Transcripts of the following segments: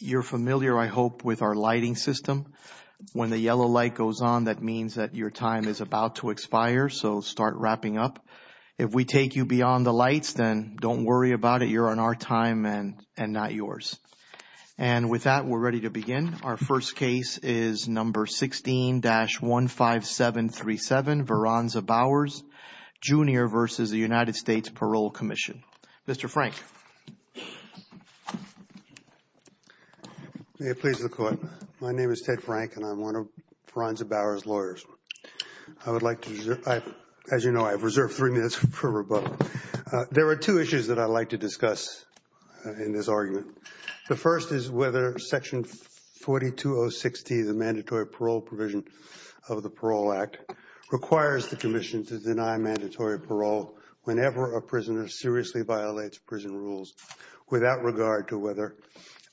You're familiar, I hope, with our lighting system. When the yellow light goes on, that means that your time is about to expire, so start wrapping up. If we take you beyond the lights, then don't worry about it. You're on our time and not yours. And with that, we're ready to begin. Our first case is No. 16-15737, Veronza Bowers, Jr. v. United States Parole of Commission. Mr. Frank. May it please the Court. My name is Ted Frank, and I'm one of Veronza Bowers' lawyers. I would like to reserve, as you know, I have reserved three minutes for her, but there are two issues that I'd like to discuss in this argument. The first is whether Section 4206-T, the mandatory parole provision of the Parole Act, requires the Commission to deny mandatory parole whenever a prisoner seriously violates prison rules, without regard to whether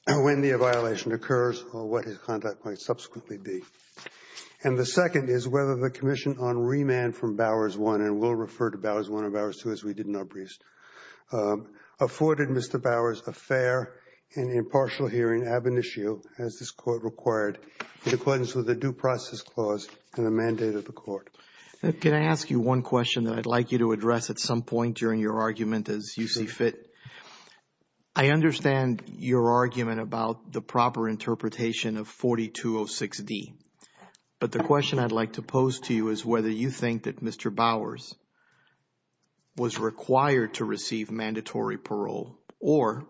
and when the violation occurs or what his conduct might subsequently be. And the second is whether the Commission on remand from Bowers I, and we'll refer to Bowers I and Bowers II as we did in our briefs, afforded Mr. Bowers a fair and impartial hearing ab initio, as this Court required, in accordance with the Due Process Clause and the mandate of the Court. Can I ask you one question that I'd like you to address at some point during your argument as you see fit? I understand your argument about the proper interpretation of 4206-D, but the question I'd like to pose to you is whether you think that Mr. Bowers was required to receive mandatory parole, or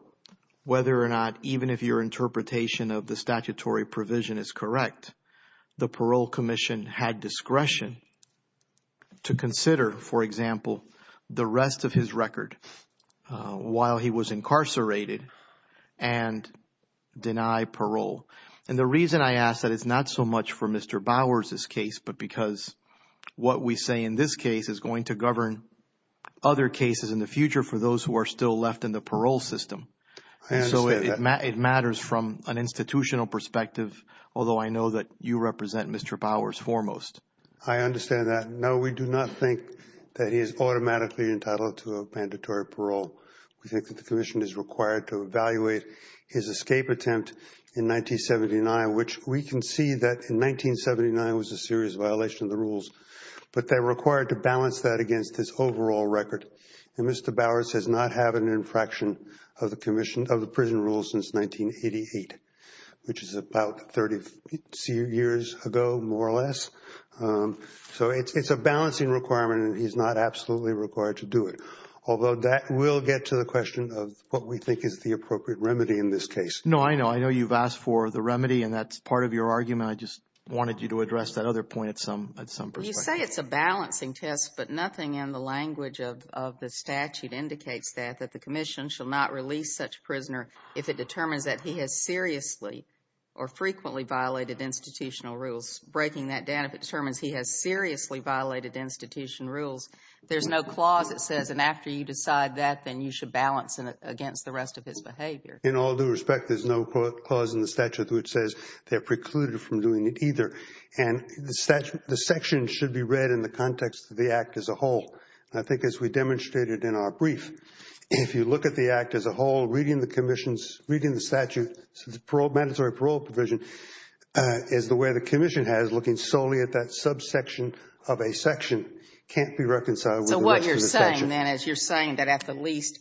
whether or not, even if your interpretation of the statutory provision is correct, the Parole Commission had discretion to consider, for example, the rest of his record while he was incarcerated and deny parole. And the reason I ask that is not so much for Mr. Bowers' case, but because what we say in this case is going to govern other cases in the future for those who are still left in the parole system. And so it matters from an institutional perspective, although I know that you represent Mr. Bowers foremost. I understand that. No, we do not think that he is automatically entitled to a mandatory parole. We think that the Commission is required to evaluate his escape attempt in 1979, which we can see that in 1979 was a serious violation of the rules, but they're required to balance that against his overall record. And Mr. Bowers has not had an infraction of the prison rules since 1988, which is about 30 years ago, more or less. So it's a balancing requirement, and he's not absolutely required to do it. Although that will get to the question of what we think is the appropriate remedy in this case. No, I know. I know you've asked for the remedy, and that's part of your argument. I just wanted you to address that other point at some perspective. You say it's a balancing test, but nothing in the language of the statute indicates that, that the Commission shall not release such a prisoner if it determines that he has seriously or frequently violated institutional rules. Breaking that down, if it determines he has seriously violated institutional rules, there's no clause that says, and after you decide that, then you should balance it against the rest of his behavior. In all due respect, there's no clause in the statute which says they're precluded from doing it either. And the section should be read in the context of the Act as a whole. I think as we demonstrated in our brief, if you look at the Act as a whole, reading the Commission's, reading the statute, mandatory parole provision is the way the Commission has, looking solely at that subsection of a section, can't be reconciled with the rest of the section. So what you're saying then is you're saying that at the least,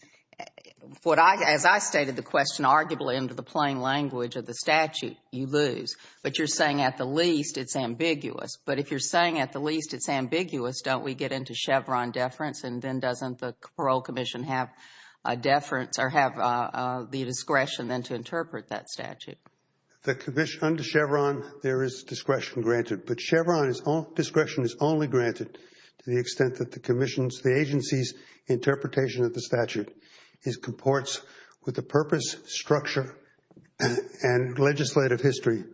as I stated the question arguably into the plain language of the statute, you lose, but you're saying at the least it's ambiguous. But if you're saying at the least it's ambiguous, don't we get into Chevron deference, and then doesn't the Parole Commission have a deference or have the discretion then to interpret that statute? The Commission, under Chevron, there is discretion granted. But Chevron's discretion is only granted to the extent that the Commission's, the agency's interpretation of the statute comports with the purpose, structure, and legislative history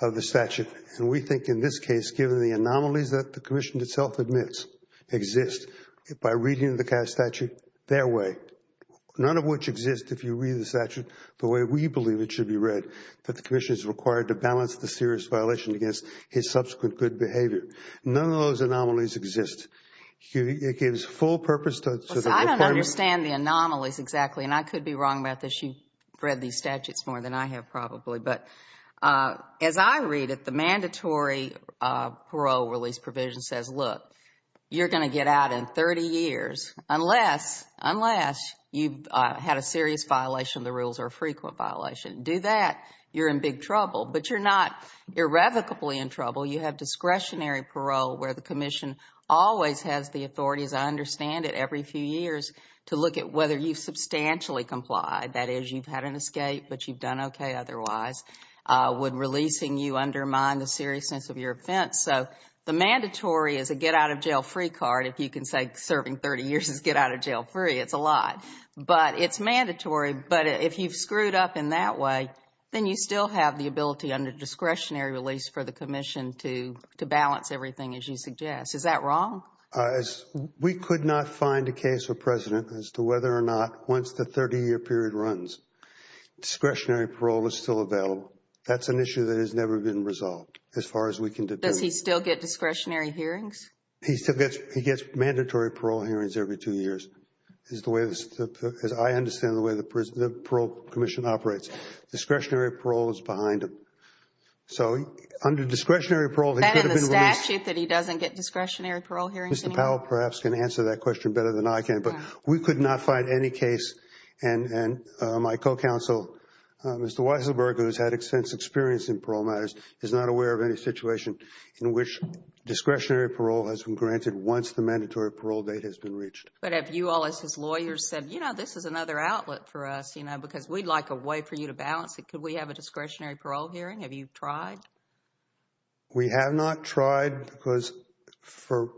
of the statute. And we think in this case, given the anomalies that the Commission itself admits exist, by reading the statute their way, none of which exist if you read the statute the way we believe it should be read, that the Commission is required to balance the serious violation against his subsequent good behavior. None of those anomalies exist. It gives full purpose to the requirement. I don't understand the anomalies exactly, and I could be wrong about this. You've read these statutes more than I have probably. But as I read it, the mandatory parole release provision says, look, you're going to get out in 30 years, unless you've had a serious violation of the rules or a frequent violation. Do that, you're in big trouble. But you're not irrevocably in trouble. You have discretionary parole where the Commission always has the authority, as I understand it, every few years to look at whether you've substantially complied. That is, you've had an escape, but you've done okay otherwise. Would releasing you undermine the seriousness of your offense? So the mandatory is a get-out-of-jail-free card. If you can say serving 30 years is get-out-of-jail-free, it's a lot. But it's mandatory. But if you've screwed up in that way, then you still have the ability under discretionary release for the Commission to balance everything, as you suggest. Is that wrong? We could not find a case for President as to whether or not, once the 30-year period runs, discretionary parole is still available. That's an issue that has never been resolved, as far as we can determine. Does he still get discretionary hearings? He gets mandatory parole hearings every two years. As I understand the way the Parole Commission operates, discretionary parole is behind him. So under discretionary parole, he could have been released. Is it a statute that he doesn't get discretionary parole hearings anymore? Mr. Powell, perhaps, can answer that question better than I can. But we could not find any case, and my co-counsel, Mr. Weisselberg, who has had extensive experience in parole matters, is not aware of any situation in which discretionary parole has been granted once the mandatory parole date has been reached. But have you all, as his lawyers, said, you know, this is another outlet for us, you know, because we'd like a way for you to balance it. Could we have a discretionary parole hearing? Have you tried? We have not tried because, for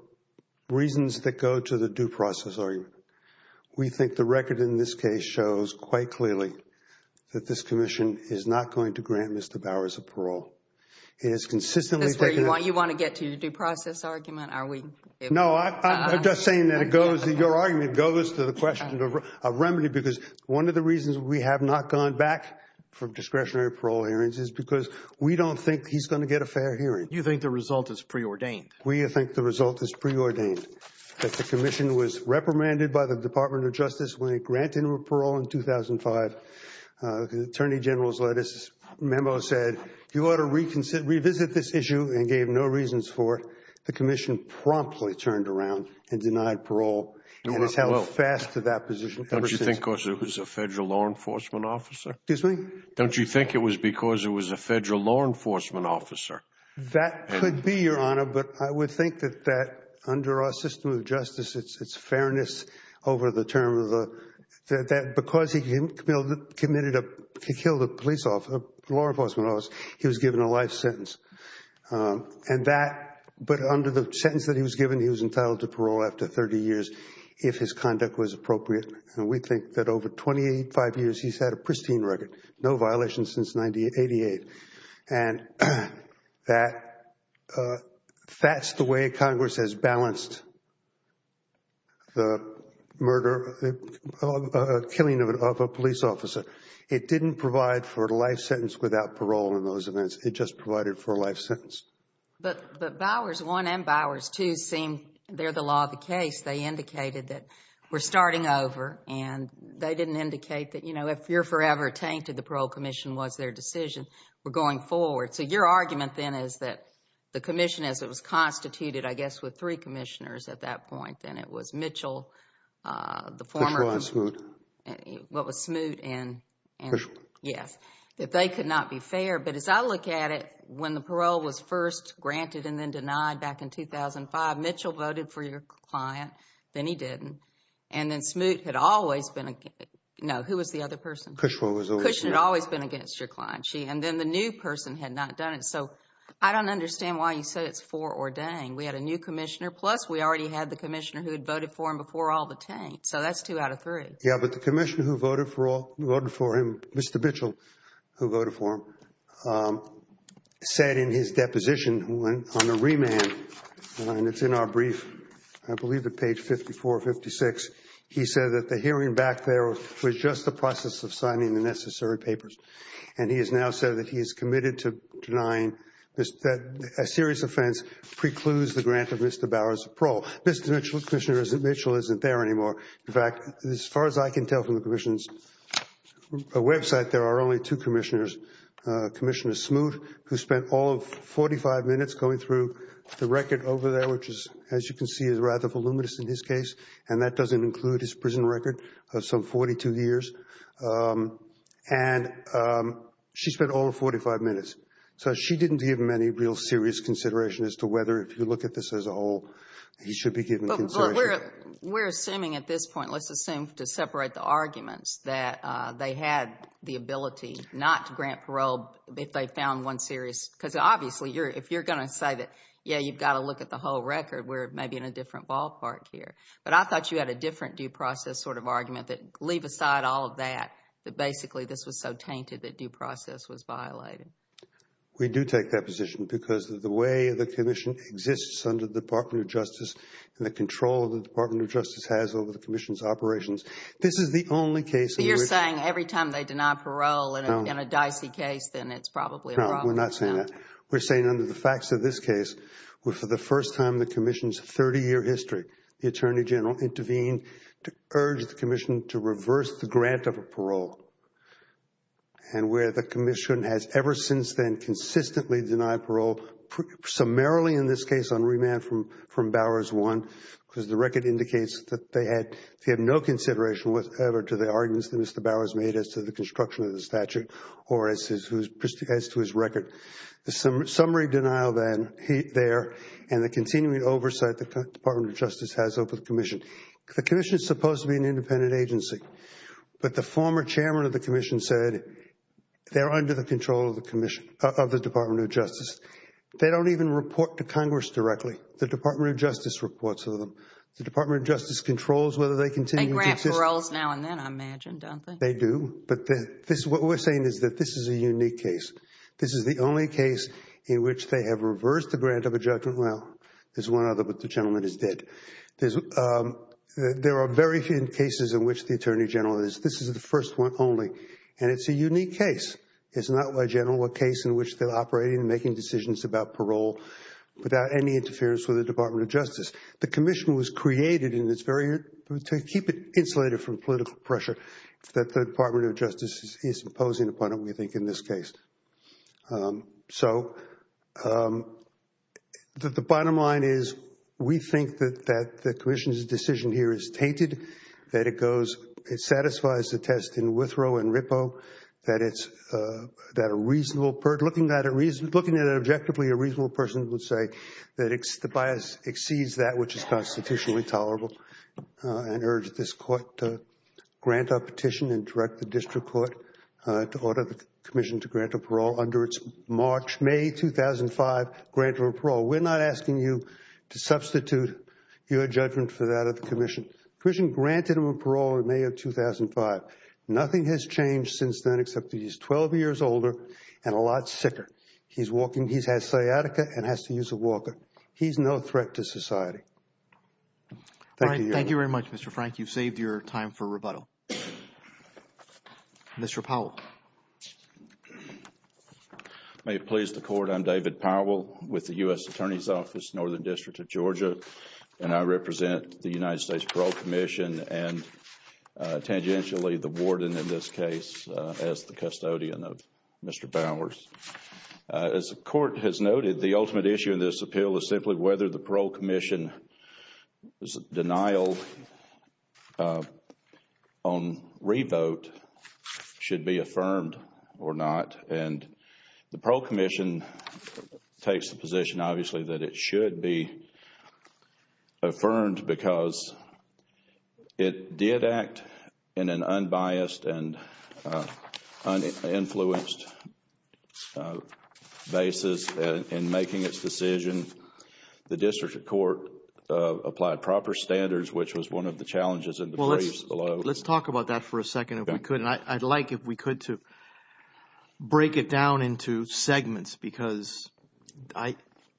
reasons that go to the due process argument, we think the record in this case shows quite clearly that this commission is not going to grant Mr. Bowers a parole. It has consistently taken— That's where you want to get to, the due process argument? Are we— No, I'm just saying that it goes—your argument goes to the question of remedy because one of the reasons we have not gone back from discretionary parole hearings is because we don't think he's going to get a fair hearing. You think the result is preordained. We think the result is preordained, that the commission was reprimanded by the Department of Justice when it granted him a parole in 2005. The Attorney General's letters—memo said, you ought to revisit this issue and gave no reasons for it. The commission promptly turned around and denied parole, and has held fast to that position ever since. Don't you think because it was a federal law enforcement officer? Excuse me? Don't you think it was because it was a federal law enforcement officer? That could be, Your Honor, but I would think that that, under our system of justice, it's fairness over the term of the— that because he committed a—he killed a police officer, a law enforcement officer, he was given a life sentence. And that—but under the sentence that he was given, he was entitled to parole after 30 years if his conduct was appropriate. And we think that over 25 years, he's had a pristine record. No violations since 1988. And that—that's the way Congress has balanced the murder— the killing of a police officer. It didn't provide for a life sentence without parole in those events. It just provided for a life sentence. But Bowers 1 and Bowers 2 seem—they're the law of the case. They indicated that we're starting over. And they didn't indicate that, you know, if you're forever tainted, the Parole Commission was their decision. We're going forward. So your argument then is that the commission, as it was constituted, I guess, with three commissioners at that point, and it was Mitchell, the former— Pishwa and Smoot. What was Smoot and— Pishwa. Yes. That they could not be fair. But as I look at it, when the parole was first granted and then denied back in 2005, Mitchell voted for your client. Then he didn't. And then Smoot had always been—no, who was the other person? Pishwa was always— Pishwa had always been against your client. And then the new person had not done it. So I don't understand why you said it's foreordained. We had a new commissioner, plus we already had the commissioner who had voted for him before all the taint. So that's two out of three. Yeah, but the commissioner who voted for him, Mr. Mitchell, who voted for him, said in his deposition on the remand, and it's in our brief, I believe to page 5456, he said that the hearing back there was just the process of signing the necessary papers. And he has now said that he is committed to denying that a serious offense precludes the grant of Mr. Bower's parole. Mr. Mitchell isn't there anymore. In fact, as far as I can tell from the commission's website, there are only two commissioners, Commissioner Smoot, who spent all of 45 minutes going through the record over there, which is, as you can see, is rather voluminous in this case. And that doesn't include his prison record of some 42 years. And she spent all of 45 minutes. So she didn't give him any real serious consideration as to whether, if you look at this as a whole, he should be given consideration. they had the ability not to grant parole if they found one serious, because obviously if you're going to say that, yeah, you've got to look at the whole record, we're maybe in a different ballpark here. But I thought you had a different due process sort of argument that, leave aside all of that, that basically this was so tainted that due process was violated. We do take that position because of the way the commission exists under the Department of Justice and the control the Department of Justice has over the commission's operations. This is the only case in which You're saying every time they deny parole in a dicey case, then it's probably a problem. No, we're not saying that. We're saying under the facts of this case, for the first time in the commission's 30-year history, the Attorney General intervened to urge the commission to reverse the grant of a parole. And where the commission has ever since then consistently denied parole, summarily in this case on remand from Bowers 1, because the record indicates that they had no consideration to the arguments that Mr. Bowers made as to the construction of the statute or as to his record. The summary denial there and the continuing oversight the Department of Justice has over the commission. The commission is supposed to be an independent agency, but the former chairman of the commission said they're under the control of the Department of Justice. They don't even report to Congress directly. The Department of Justice reports to them. The Department of Justice controls whether they continue to exist. They grant paroles now and then, I imagine, don't they? They do. But what we're saying is that this is a unique case. This is the only case in which they have reversed the grant of a judgment. Well, there's one other, but the gentleman is dead. There are very few cases in which the Attorney General is. This is the first one only. And it's a unique case. It's not a general case in which they're operating and making decisions about parole without any interference with the Department of Justice. The commission was created to keep it insulated from political pressure that the Department of Justice is imposing upon it, we think, in this case. So the bottom line is we think that the commission's decision here is tainted, that it satisfies the test in Withrow and Rippo, that looking at it objectively, a reasonable person would say that the bias exceeds that which is constitutionally tolerable, and urge this court to grant a petition and direct the district court to order the commission to grant a parole under its March, May 2005 grant of a parole. We're not asking you to substitute your judgment for that of the commission. The commission granted them a parole in May of 2005. Nothing has changed since then except that he's 12 years older and a lot sicker. He's walking. He's had sciatica and has to use a walker. He's no threat to society. Thank you, Your Honor. Thank you very much, Mr. Frank. You've saved your time for rebuttal. Mr. Powell. May it please the Court, I'm David Powell with the U.S. Attorney's Office, Northern District of Georgia, and I represent the United States Parole Commission and tangentially the warden in this case as the custodian of Mr. Bowers. As the Court has noted, the ultimate issue in this appeal is simply whether the Parole Commission's denial on re-vote should be affirmed or not. I would argue that it should be affirmed because it did act in an unbiased and uninfluenced basis in making its decision. The district court applied proper standards, which was one of the challenges in the briefs below. Let's talk about that for a second if we could. And I'd like, if we could, to break it down into segments because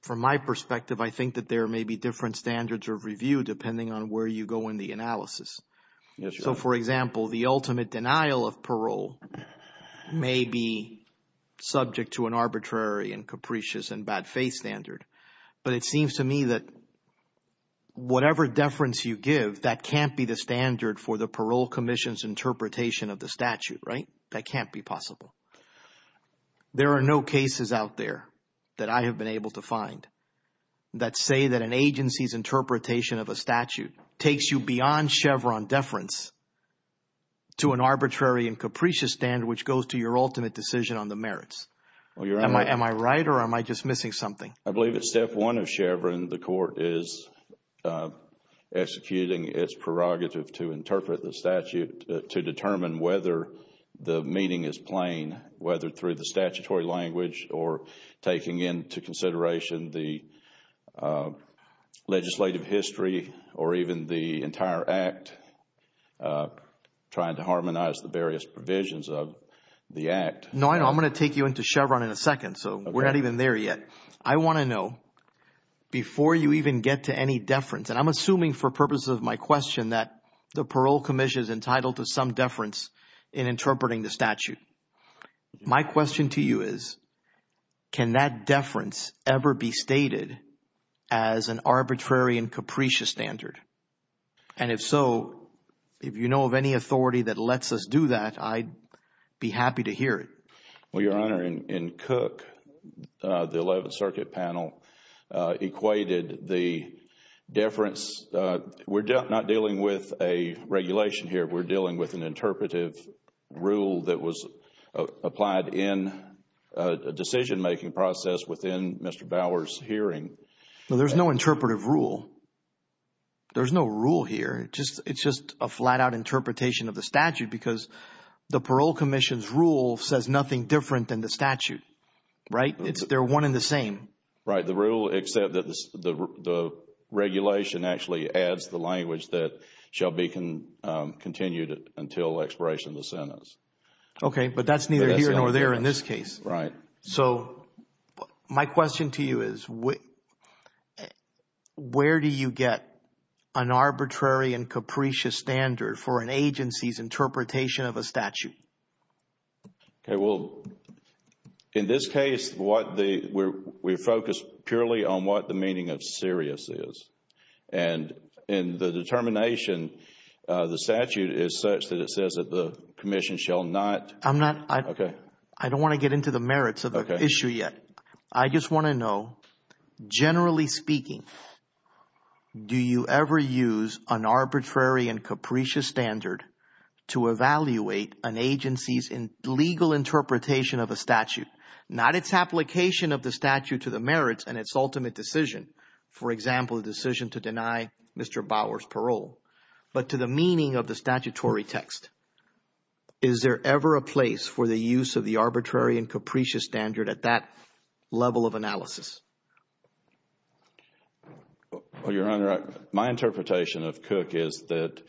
from my perspective, I think that there may be different standards of review depending on where you go in the analysis. Yes, Your Honor. So, for example, the ultimate denial of parole may be subject to an arbitrary and capricious and bad faith standard. But it seems to me that whatever deference you give, that can't be the standard for the Parole Commission's interpretation of the statute, right? That can't be possible. There are no cases out there that I have been able to find that say that an agency's interpretation of a statute takes you beyond Chevron deference to an arbitrary and capricious standard which goes to your ultimate decision on the merits. Am I right or am I just missing something? I believe it's step one of Chevron. The court is executing its prerogative to interpret the statute to determine whether the meaning is plain, whether through the statutory language or taking into consideration the legislative history or even the entire Act, trying to harmonize the various provisions of the Act. No, I'm going to take you into Chevron in a second, so we're not even there yet. I want to know before you even get to any deference, and I'm assuming for purposes of my question that the Parole Commission is entitled to some deference in interpreting the statute. My question to you is can that deference ever be stated as an arbitrary and capricious standard? And if so, if you know of any authority that lets us do that, I'd be happy to hear it. Well, Your Honor, in Cook, the Eleventh Circuit panel equated the deference. We're not dealing with a regulation here. We're dealing with an interpretive rule that was applied in a decision-making process within Mr. Bauer's hearing. There's no interpretive rule. There's no rule here. It's just a flat-out interpretation of the statute because the Parole Commission's rule says nothing different than the statute, right? They're one and the same. Right, the rule except that the regulation actually adds the language that shall be continued until expiration of the sentence. Okay, but that's neither here nor there in this case. Right. So my question to you is where do you get an arbitrary and capricious standard for an agency's interpretation of a statute? Okay, well, in this case, we're focused purely on what the meaning of serious is. And in the determination, the statute is such that it says that the commission shall not. I'm not. Okay. I don't want to get into the merits of the issue yet. I just want to know, generally speaking, do you ever use an arbitrary and capricious standard to evaluate an agency's legal interpretation of a statute? Not its application of the statute to the merits and its ultimate decision, for example, the decision to deny Mr. Bauer's parole, but to the meaning of the statutory text. Is there ever a place for the use of the arbitrary and capricious standard at that level of analysis? Well, Your Honor, my interpretation of Cook is that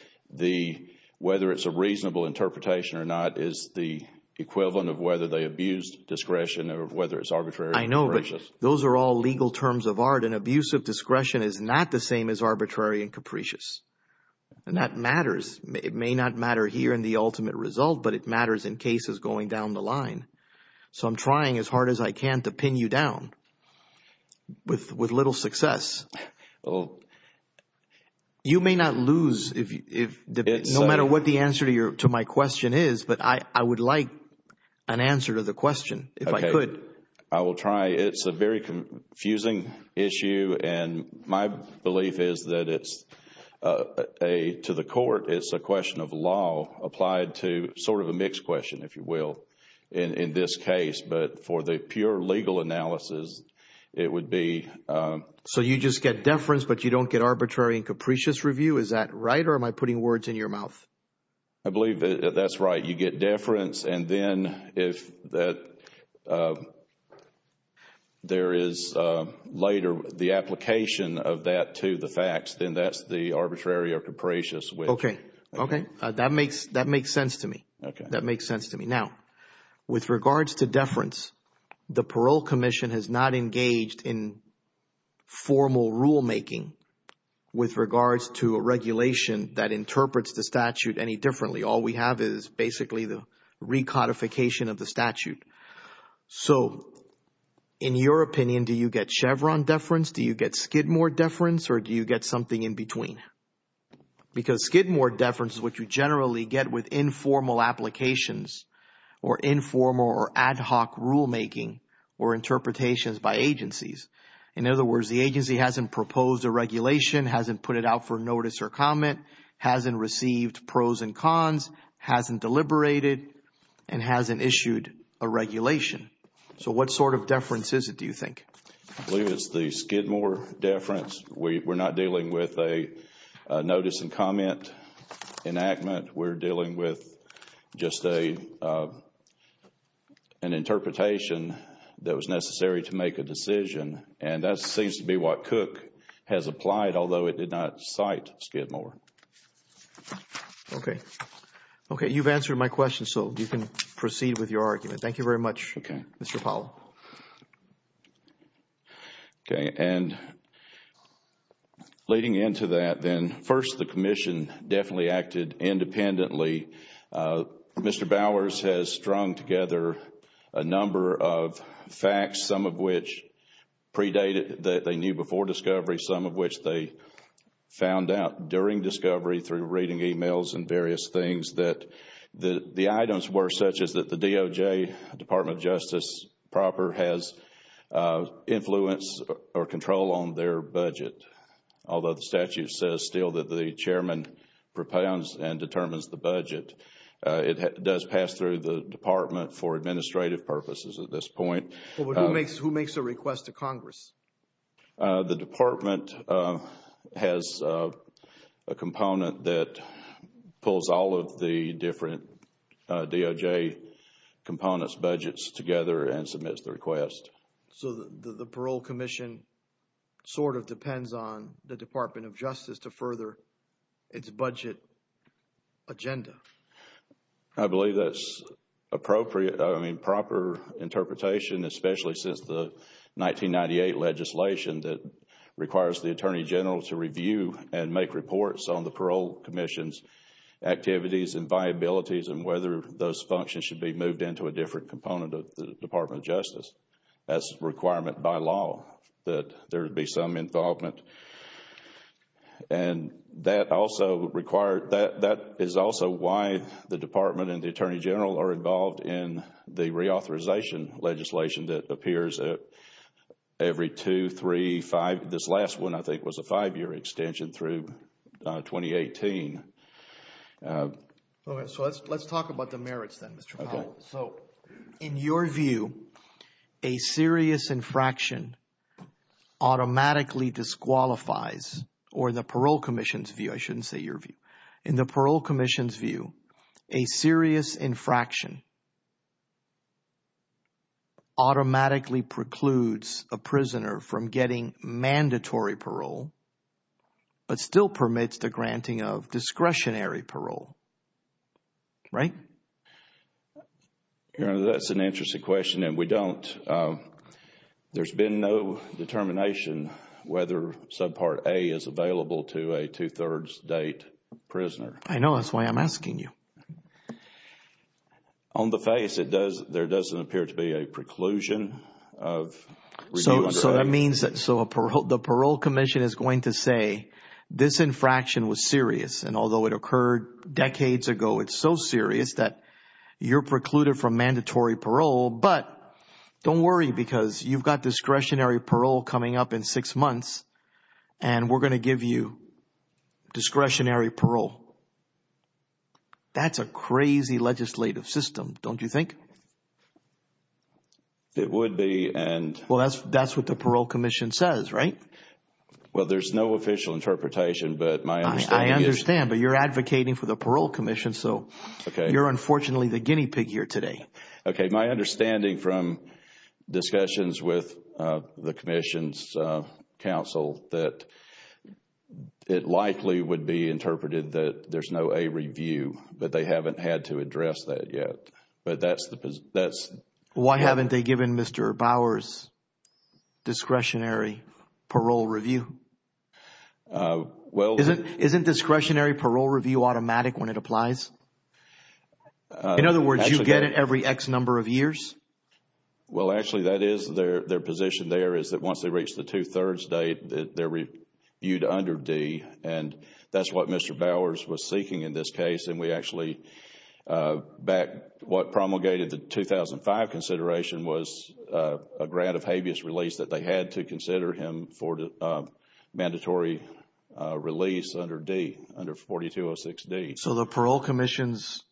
whether it's a reasonable interpretation or not is the equivalent of whether they abused discretion or whether it's arbitrary and capricious. I know, but those are all legal terms of art, and abuse of discretion is not the same as arbitrary and capricious. And that matters. It may not matter here in the ultimate result, but it matters in cases going down the line. So I'm trying as hard as I can to pin you down with little success. You may not lose no matter what the answer to my question is, but I would like an answer to the question if I could. Okay. I will try. It's a very confusing issue, and my belief is that to the court, it's a question of law applied to sort of a mixed question, if you will, in this case. But for the pure legal analysis, it would be— So you just get deference, but you don't get arbitrary and capricious review? Is that right, or am I putting words in your mouth? I believe that's right. You get deference, and then if there is later the application of that to the facts, then that's the arbitrary or capricious which— Okay. Okay. That makes sense to me. Okay. That makes sense to me. Now, with regards to deference, the Parole Commission has not engaged in formal rulemaking with regards to a regulation that interprets the statute any differently. All we have is basically the recodification of the statute. So in your opinion, do you get Chevron deference? Do you get Skidmore deference, or do you get something in between? Because Skidmore deference is what you generally get with informal applications or informal or ad hoc rulemaking or interpretations by agencies. In other words, the agency hasn't proposed a regulation, hasn't put it out for notice or comment, hasn't received pros and cons, hasn't deliberated, and hasn't issued a regulation. So what sort of deference is it, do you think? I believe it's the Skidmore deference. We're not dealing with a notice and comment enactment. We're dealing with just an interpretation that was necessary to make a decision. And that seems to be what Cook has applied, although it did not cite Skidmore. Okay. Okay. You've answered my question, so you can proceed with your argument. Thank you very much, Mr. Powell. Okay. And leading into that then, first, the Commission definitely acted independently. Mr. Bowers has strung together a number of facts, some of which predated that they knew before discovery, some of which they found out during discovery through reading emails and various things, that the items were such as that the DOJ, Department of Justice proper, has influence or control on their budget, although the statute says still that the chairman propounds and determines the budget. It does pass through the Department for administrative purposes at this point. Who makes a request to Congress? The Department has a component that pulls all of the different DOJ components, budgets, together and submits the request. So the Parole Commission sort of depends on the Department of Justice to further its budget agenda? I believe that's appropriate. I mean, proper interpretation, especially since the 1998 legislation that requires the Attorney General to review and make reports on the Parole Commission's activities and viabilities and whether those functions should be moved into a different component of the Department of Justice. That's a requirement by law that there be some involvement. And that is also why the Department and the Attorney General are involved in the reauthorization legislation that appears every two, three, five. This last one, I think, was a five-year extension through 2018. So let's talk about the merits then, Mr. Powell. So in your view, a serious infraction automatically disqualifies or the Parole Commission's view – I shouldn't say your view. In the Parole Commission's view, a serious infraction automatically precludes a prisoner from getting mandatory parole but still permits the granting of discretionary parole, right? That's an interesting question and we don't. There's been no determination whether subpart A is available to a two-thirds date prisoner. I know. That's why I'm asking you. On the face, there doesn't appear to be a preclusion of review under that. So that means that the Parole Commission is going to say this infraction was serious. And although it occurred decades ago, it's so serious that you're precluded from mandatory parole. But don't worry because you've got discretionary parole coming up in six months and we're going to give you discretionary parole. That's a crazy legislative system, don't you think? It would be. Well, that's what the Parole Commission says, right? Well, there's no official interpretation but my understanding is – I understand but you're advocating for the Parole Commission so you're unfortunately the guinea pig here today. Okay, my understanding from discussions with the Commission's counsel that it likely would be interpreted that there's no A review but they haven't had to address that yet. Why haven't they given Mr. Bowers discretionary parole review? Isn't discretionary parole review automatic when it applies? In other words, you get it every X number of years? Well, actually, that is their position there is that once they reach the two-thirds date, they're reviewed under D. That's what Mr. Bowers was seeking in this case and we actually – what promulgated the 2005 consideration was a grant of habeas release that they had to consider him for the mandatory release under D, under 4206D. So the Parole Commission's,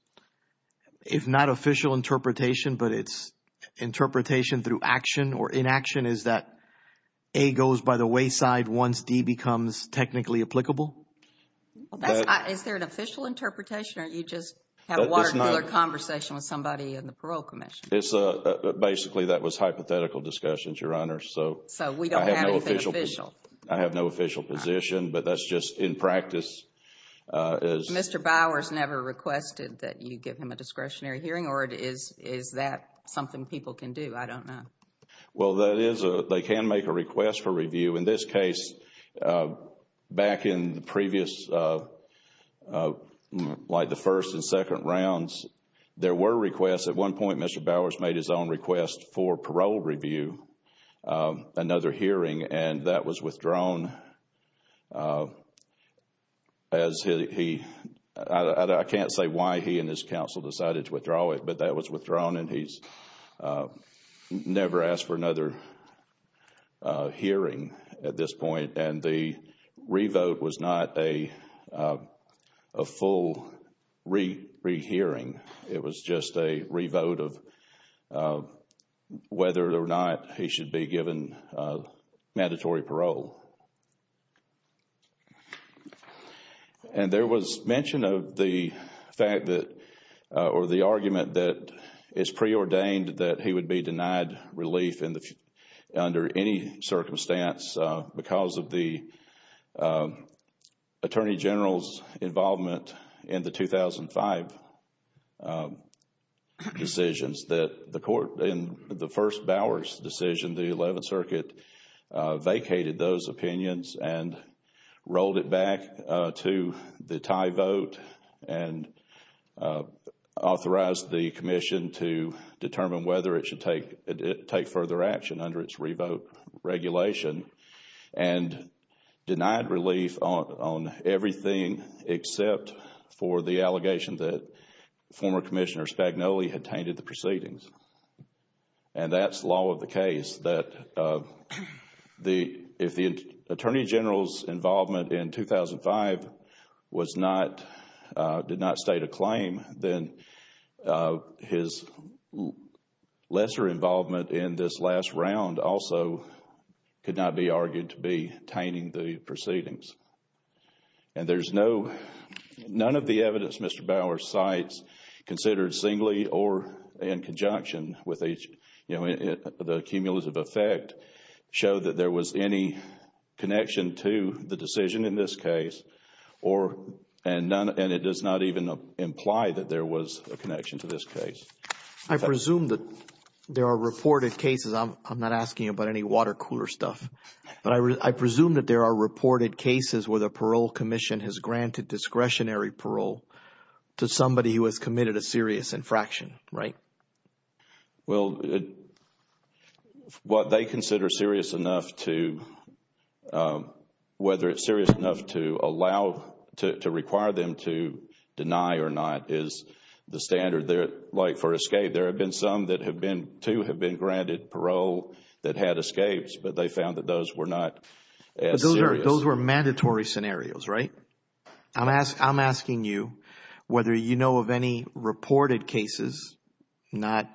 if not official interpretation but its interpretation through action or inaction, is that A goes by the wayside once D becomes technically applicable? Is there an official interpretation or you just have a water cooler conversation with somebody in the Parole Commission? Basically, that was hypothetical discussions, Your Honor. So we don't have anything official? I have no official position but that's just in practice. Mr. Bowers never requested that you give him a discretionary hearing or is that something people can do? I don't know. Well, that is – they can make a request for review. In this case, back in the previous – like the first and second rounds, there were requests. At one point, Mr. Bowers made his own request for parole review, another hearing, and that was withdrawn as he – I can't say why he and his counsel decided to withdraw it, but that was withdrawn and he's never asked for another hearing at this point. And the revote was not a full rehearing. It was just a revote of whether or not he should be given mandatory parole. And there was mention of the fact that – or the argument that it's preordained that he would be denied relief under any circumstance because of the Attorney General's involvement in the 2005 decisions that the court – and rolled it back to the tie vote and authorized the Commission to determine whether it should take further action under its revote regulation and denied relief on everything except for the allegation that former Commissioner Spagnoli had tainted the proceedings. And that's the law of the case, that if the Attorney General's involvement in 2005 was not – did not state a claim, then his lesser involvement in this last round also could not be argued to be tainting the proceedings. And there's no – none of the evidence Mr. Bauer cites considered singly or in conjunction with the cumulative effect show that there was any connection to the decision in this case or – and it does not even imply that there was a connection to this case. I presume that there are reported cases – I'm not asking about any water cooler stuff. But I presume that there are reported cases where the Parole Commission has granted discretionary parole to somebody who has committed a serious infraction, right? Well, what they consider serious enough to – whether it's serious enough to allow – to require them to deny or not is the standard there. Like for escape, there have been some that have been – two have been granted parole that had escapes, but they found that those were not as serious. Those were mandatory scenarios, right? I'm asking you whether you know of any reported cases, not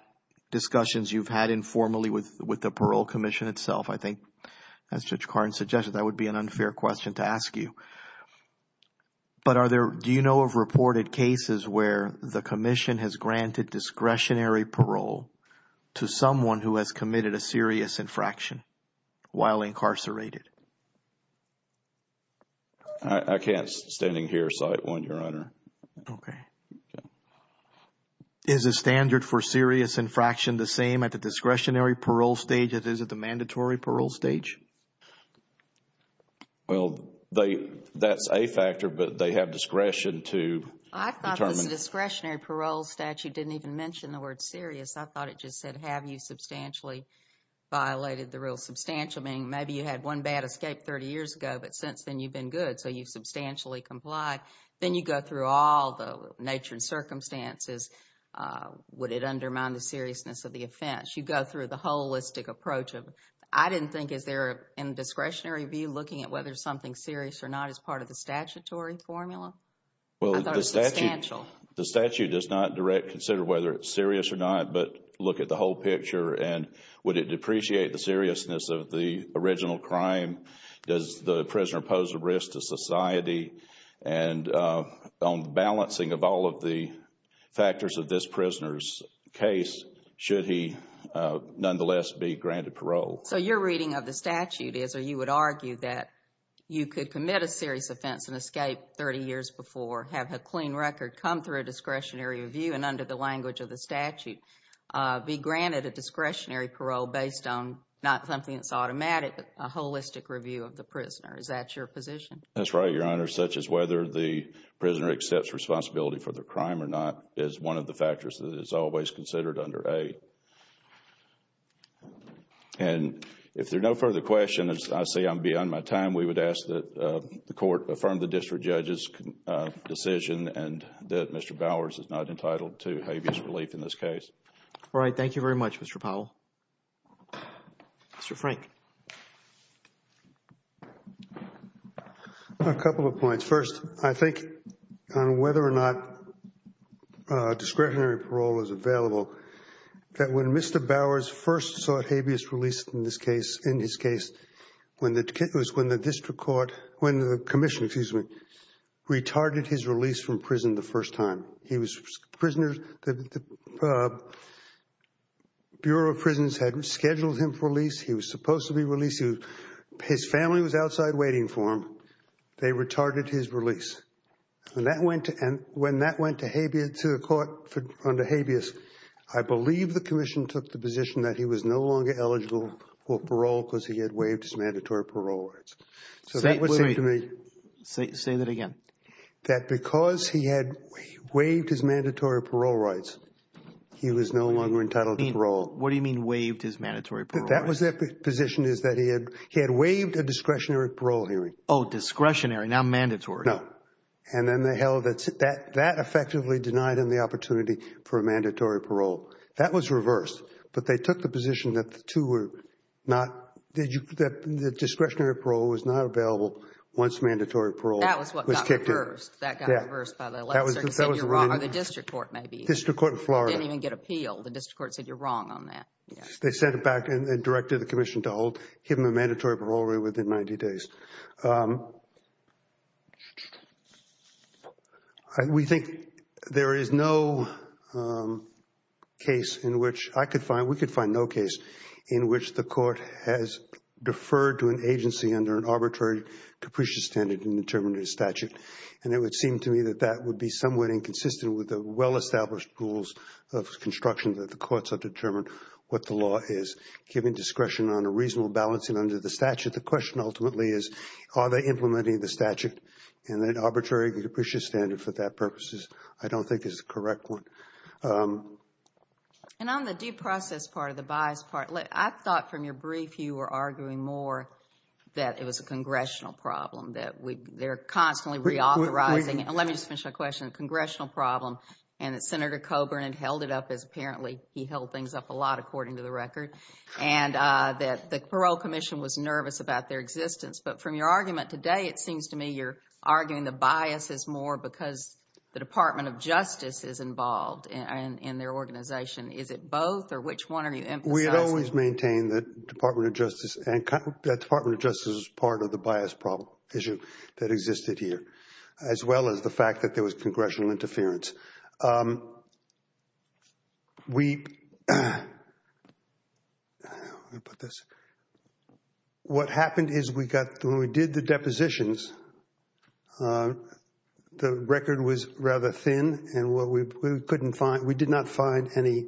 discussions you've had informally with the Parole Commission itself. I think as Judge Cardin suggested, that would be an unfair question to ask you. But are there – do you know of reported cases where the Commission has granted discretionary parole to someone who has committed a serious infraction while incarcerated? I can't, standing here, cite one, Your Honor. Okay. Yeah. Is the standard for serious infraction the same at the discretionary parole stage as it is at the mandatory parole stage? Well, they – that's a factor, but they have discretion to determine. I thought the discretionary parole statute didn't even mention the word serious. I thought it just said, have you substantially violated the real substantial, meaning maybe you had one bad escape 30 years ago, but since then you've been good, so you've substantially complied. Then you go through all the nature and circumstances. Would it undermine the seriousness of the offense? You go through the holistic approach of – I didn't think, is there, in discretionary review, looking at whether something's serious or not as part of the statutory formula? I thought it was substantial. The statute does not directly consider whether it's serious or not, but look at the whole picture. And would it depreciate the seriousness of the original crime? Does the prisoner pose a risk to society? And on the balancing of all of the factors of this prisoner's case, should he nonetheless be granted parole? So your reading of the statute is, or you would argue, that you could commit a serious offense and escape 30 years before, have a clean record, come through a discretionary review, and under the language of the statute, be granted a discretionary parole based on not something that's automatic, but a holistic review of the prisoner. Is that your position? That's right, Your Honor, such as whether the prisoner accepts responsibility for their crime or not is one of the factors that is always considered under A. And if there are no further questions, I see I'm beyond my time. We would ask that the court affirm the district judge's decision and that Mr. Bowers is not entitled to habeas relief in this case. All right. Thank you very much, Mr. Powell. Mr. Frank. A couple of points. First, I think on whether or not discretionary parole is available, that when Mr. Bowers first sought habeas relief in this case, in his case, when the district court, when the commission, excuse me, retarded his release from prison the first time. He was prisoner, the Bureau of Prisons had scheduled him for release. He was supposed to be released. His family was outside waiting for him. They retarded his release. When that went to habeas, I believe the commission took the position that he was no longer eligible for parole because he had waived his mandatory parole rights. Say that again. That because he had waived his mandatory parole rights, he was no longer entitled to parole. What do you mean waived his mandatory parole rights? That was the position is that he had waived a discretionary parole hearing. Oh, discretionary, not mandatory. No. And then they held it. That effectively denied him the opportunity for a mandatory parole. That was reversed. But they took the position that the two were not, that discretionary parole was not available once mandatory parole was kicked in. That was what got reversed. That got reversed by the legislature. Or the district court maybe. District court in Florida. Didn't even get appealed. The district court said you're wrong on that. They sent it back and directed the commission to give him a mandatory parole within 90 days. We think there is no case in which I could find, we could find no case in which the court has deferred to an agency under an arbitrary capricious standard in determining a statute. And it would seem to me that that would be somewhat inconsistent with the well-established rules of construction that the courts have determined what the law is, giving discretion on a reasonable balancing under the statute. The question ultimately is, are they implementing the statute? And an arbitrary capricious standard for that purpose I don't think is the correct one. And on the due process part of the bias part, I thought from your brief you were arguing more that it was a congressional problem, that they're constantly reauthorizing it. And let me just finish my question. Congressional problem and that Senator Coburn had held it up as apparently he held things up a lot according to the record. And that the parole commission was nervous about their existence. But from your argument today it seems to me you're arguing the bias is more because the Department of Justice is involved in their organization. Is it both or which one are you emphasizing? We had always maintained that Department of Justice and that Department of Justice is part of the bias problem issue that existed here. As well as the fact that there was congressional interference. What happened is when we did the depositions, the record was rather thin. And we did not find any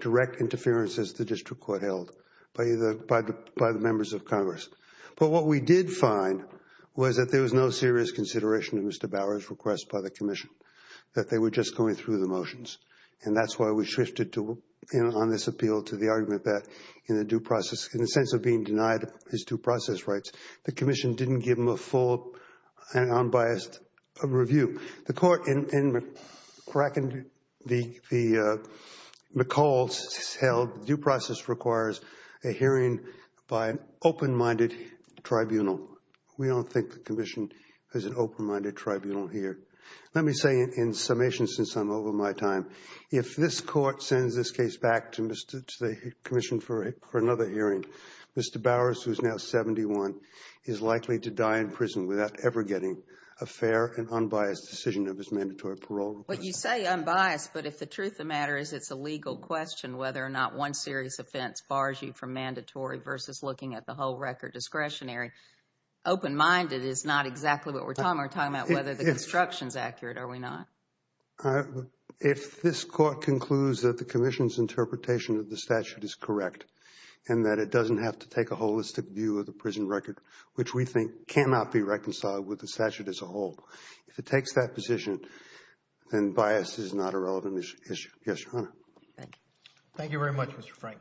direct interference as the district court held by the members of Congress. But what we did find was that there was no serious consideration of Mr. Bower's request by the commission. That they were just going through the motions. And that's why we shifted on this appeal to the argument that in the due process, in the sense of being denied his due process rights, the commission didn't give him a full unbiased review. The court in McCall's held due process requires a hearing by an open-minded tribunal. We don't think the commission has an open-minded tribunal here. Let me say in summation since I'm over my time. If this court sends this case back to the commission for another hearing, Mr. Bowers, who is now 71, is likely to die in prison without ever getting a fair and unbiased decision of his mandatory parole request. But you say unbiased, but if the truth of the matter is it's a legal question whether or not one serious offense bars you from mandatory versus looking at the whole record discretionary, open-minded is not exactly what we're talking about. We're talking about whether the construction is accurate, are we not? If this court concludes that the commission's interpretation of the statute is correct and that it doesn't have to take a holistic view of the prison record, which we think cannot be reconciled with the statute as a whole, if it takes that position, then bias is not a relevant issue. Yes, Your Honor. Thank you. Thank you very much, Mr. Frank.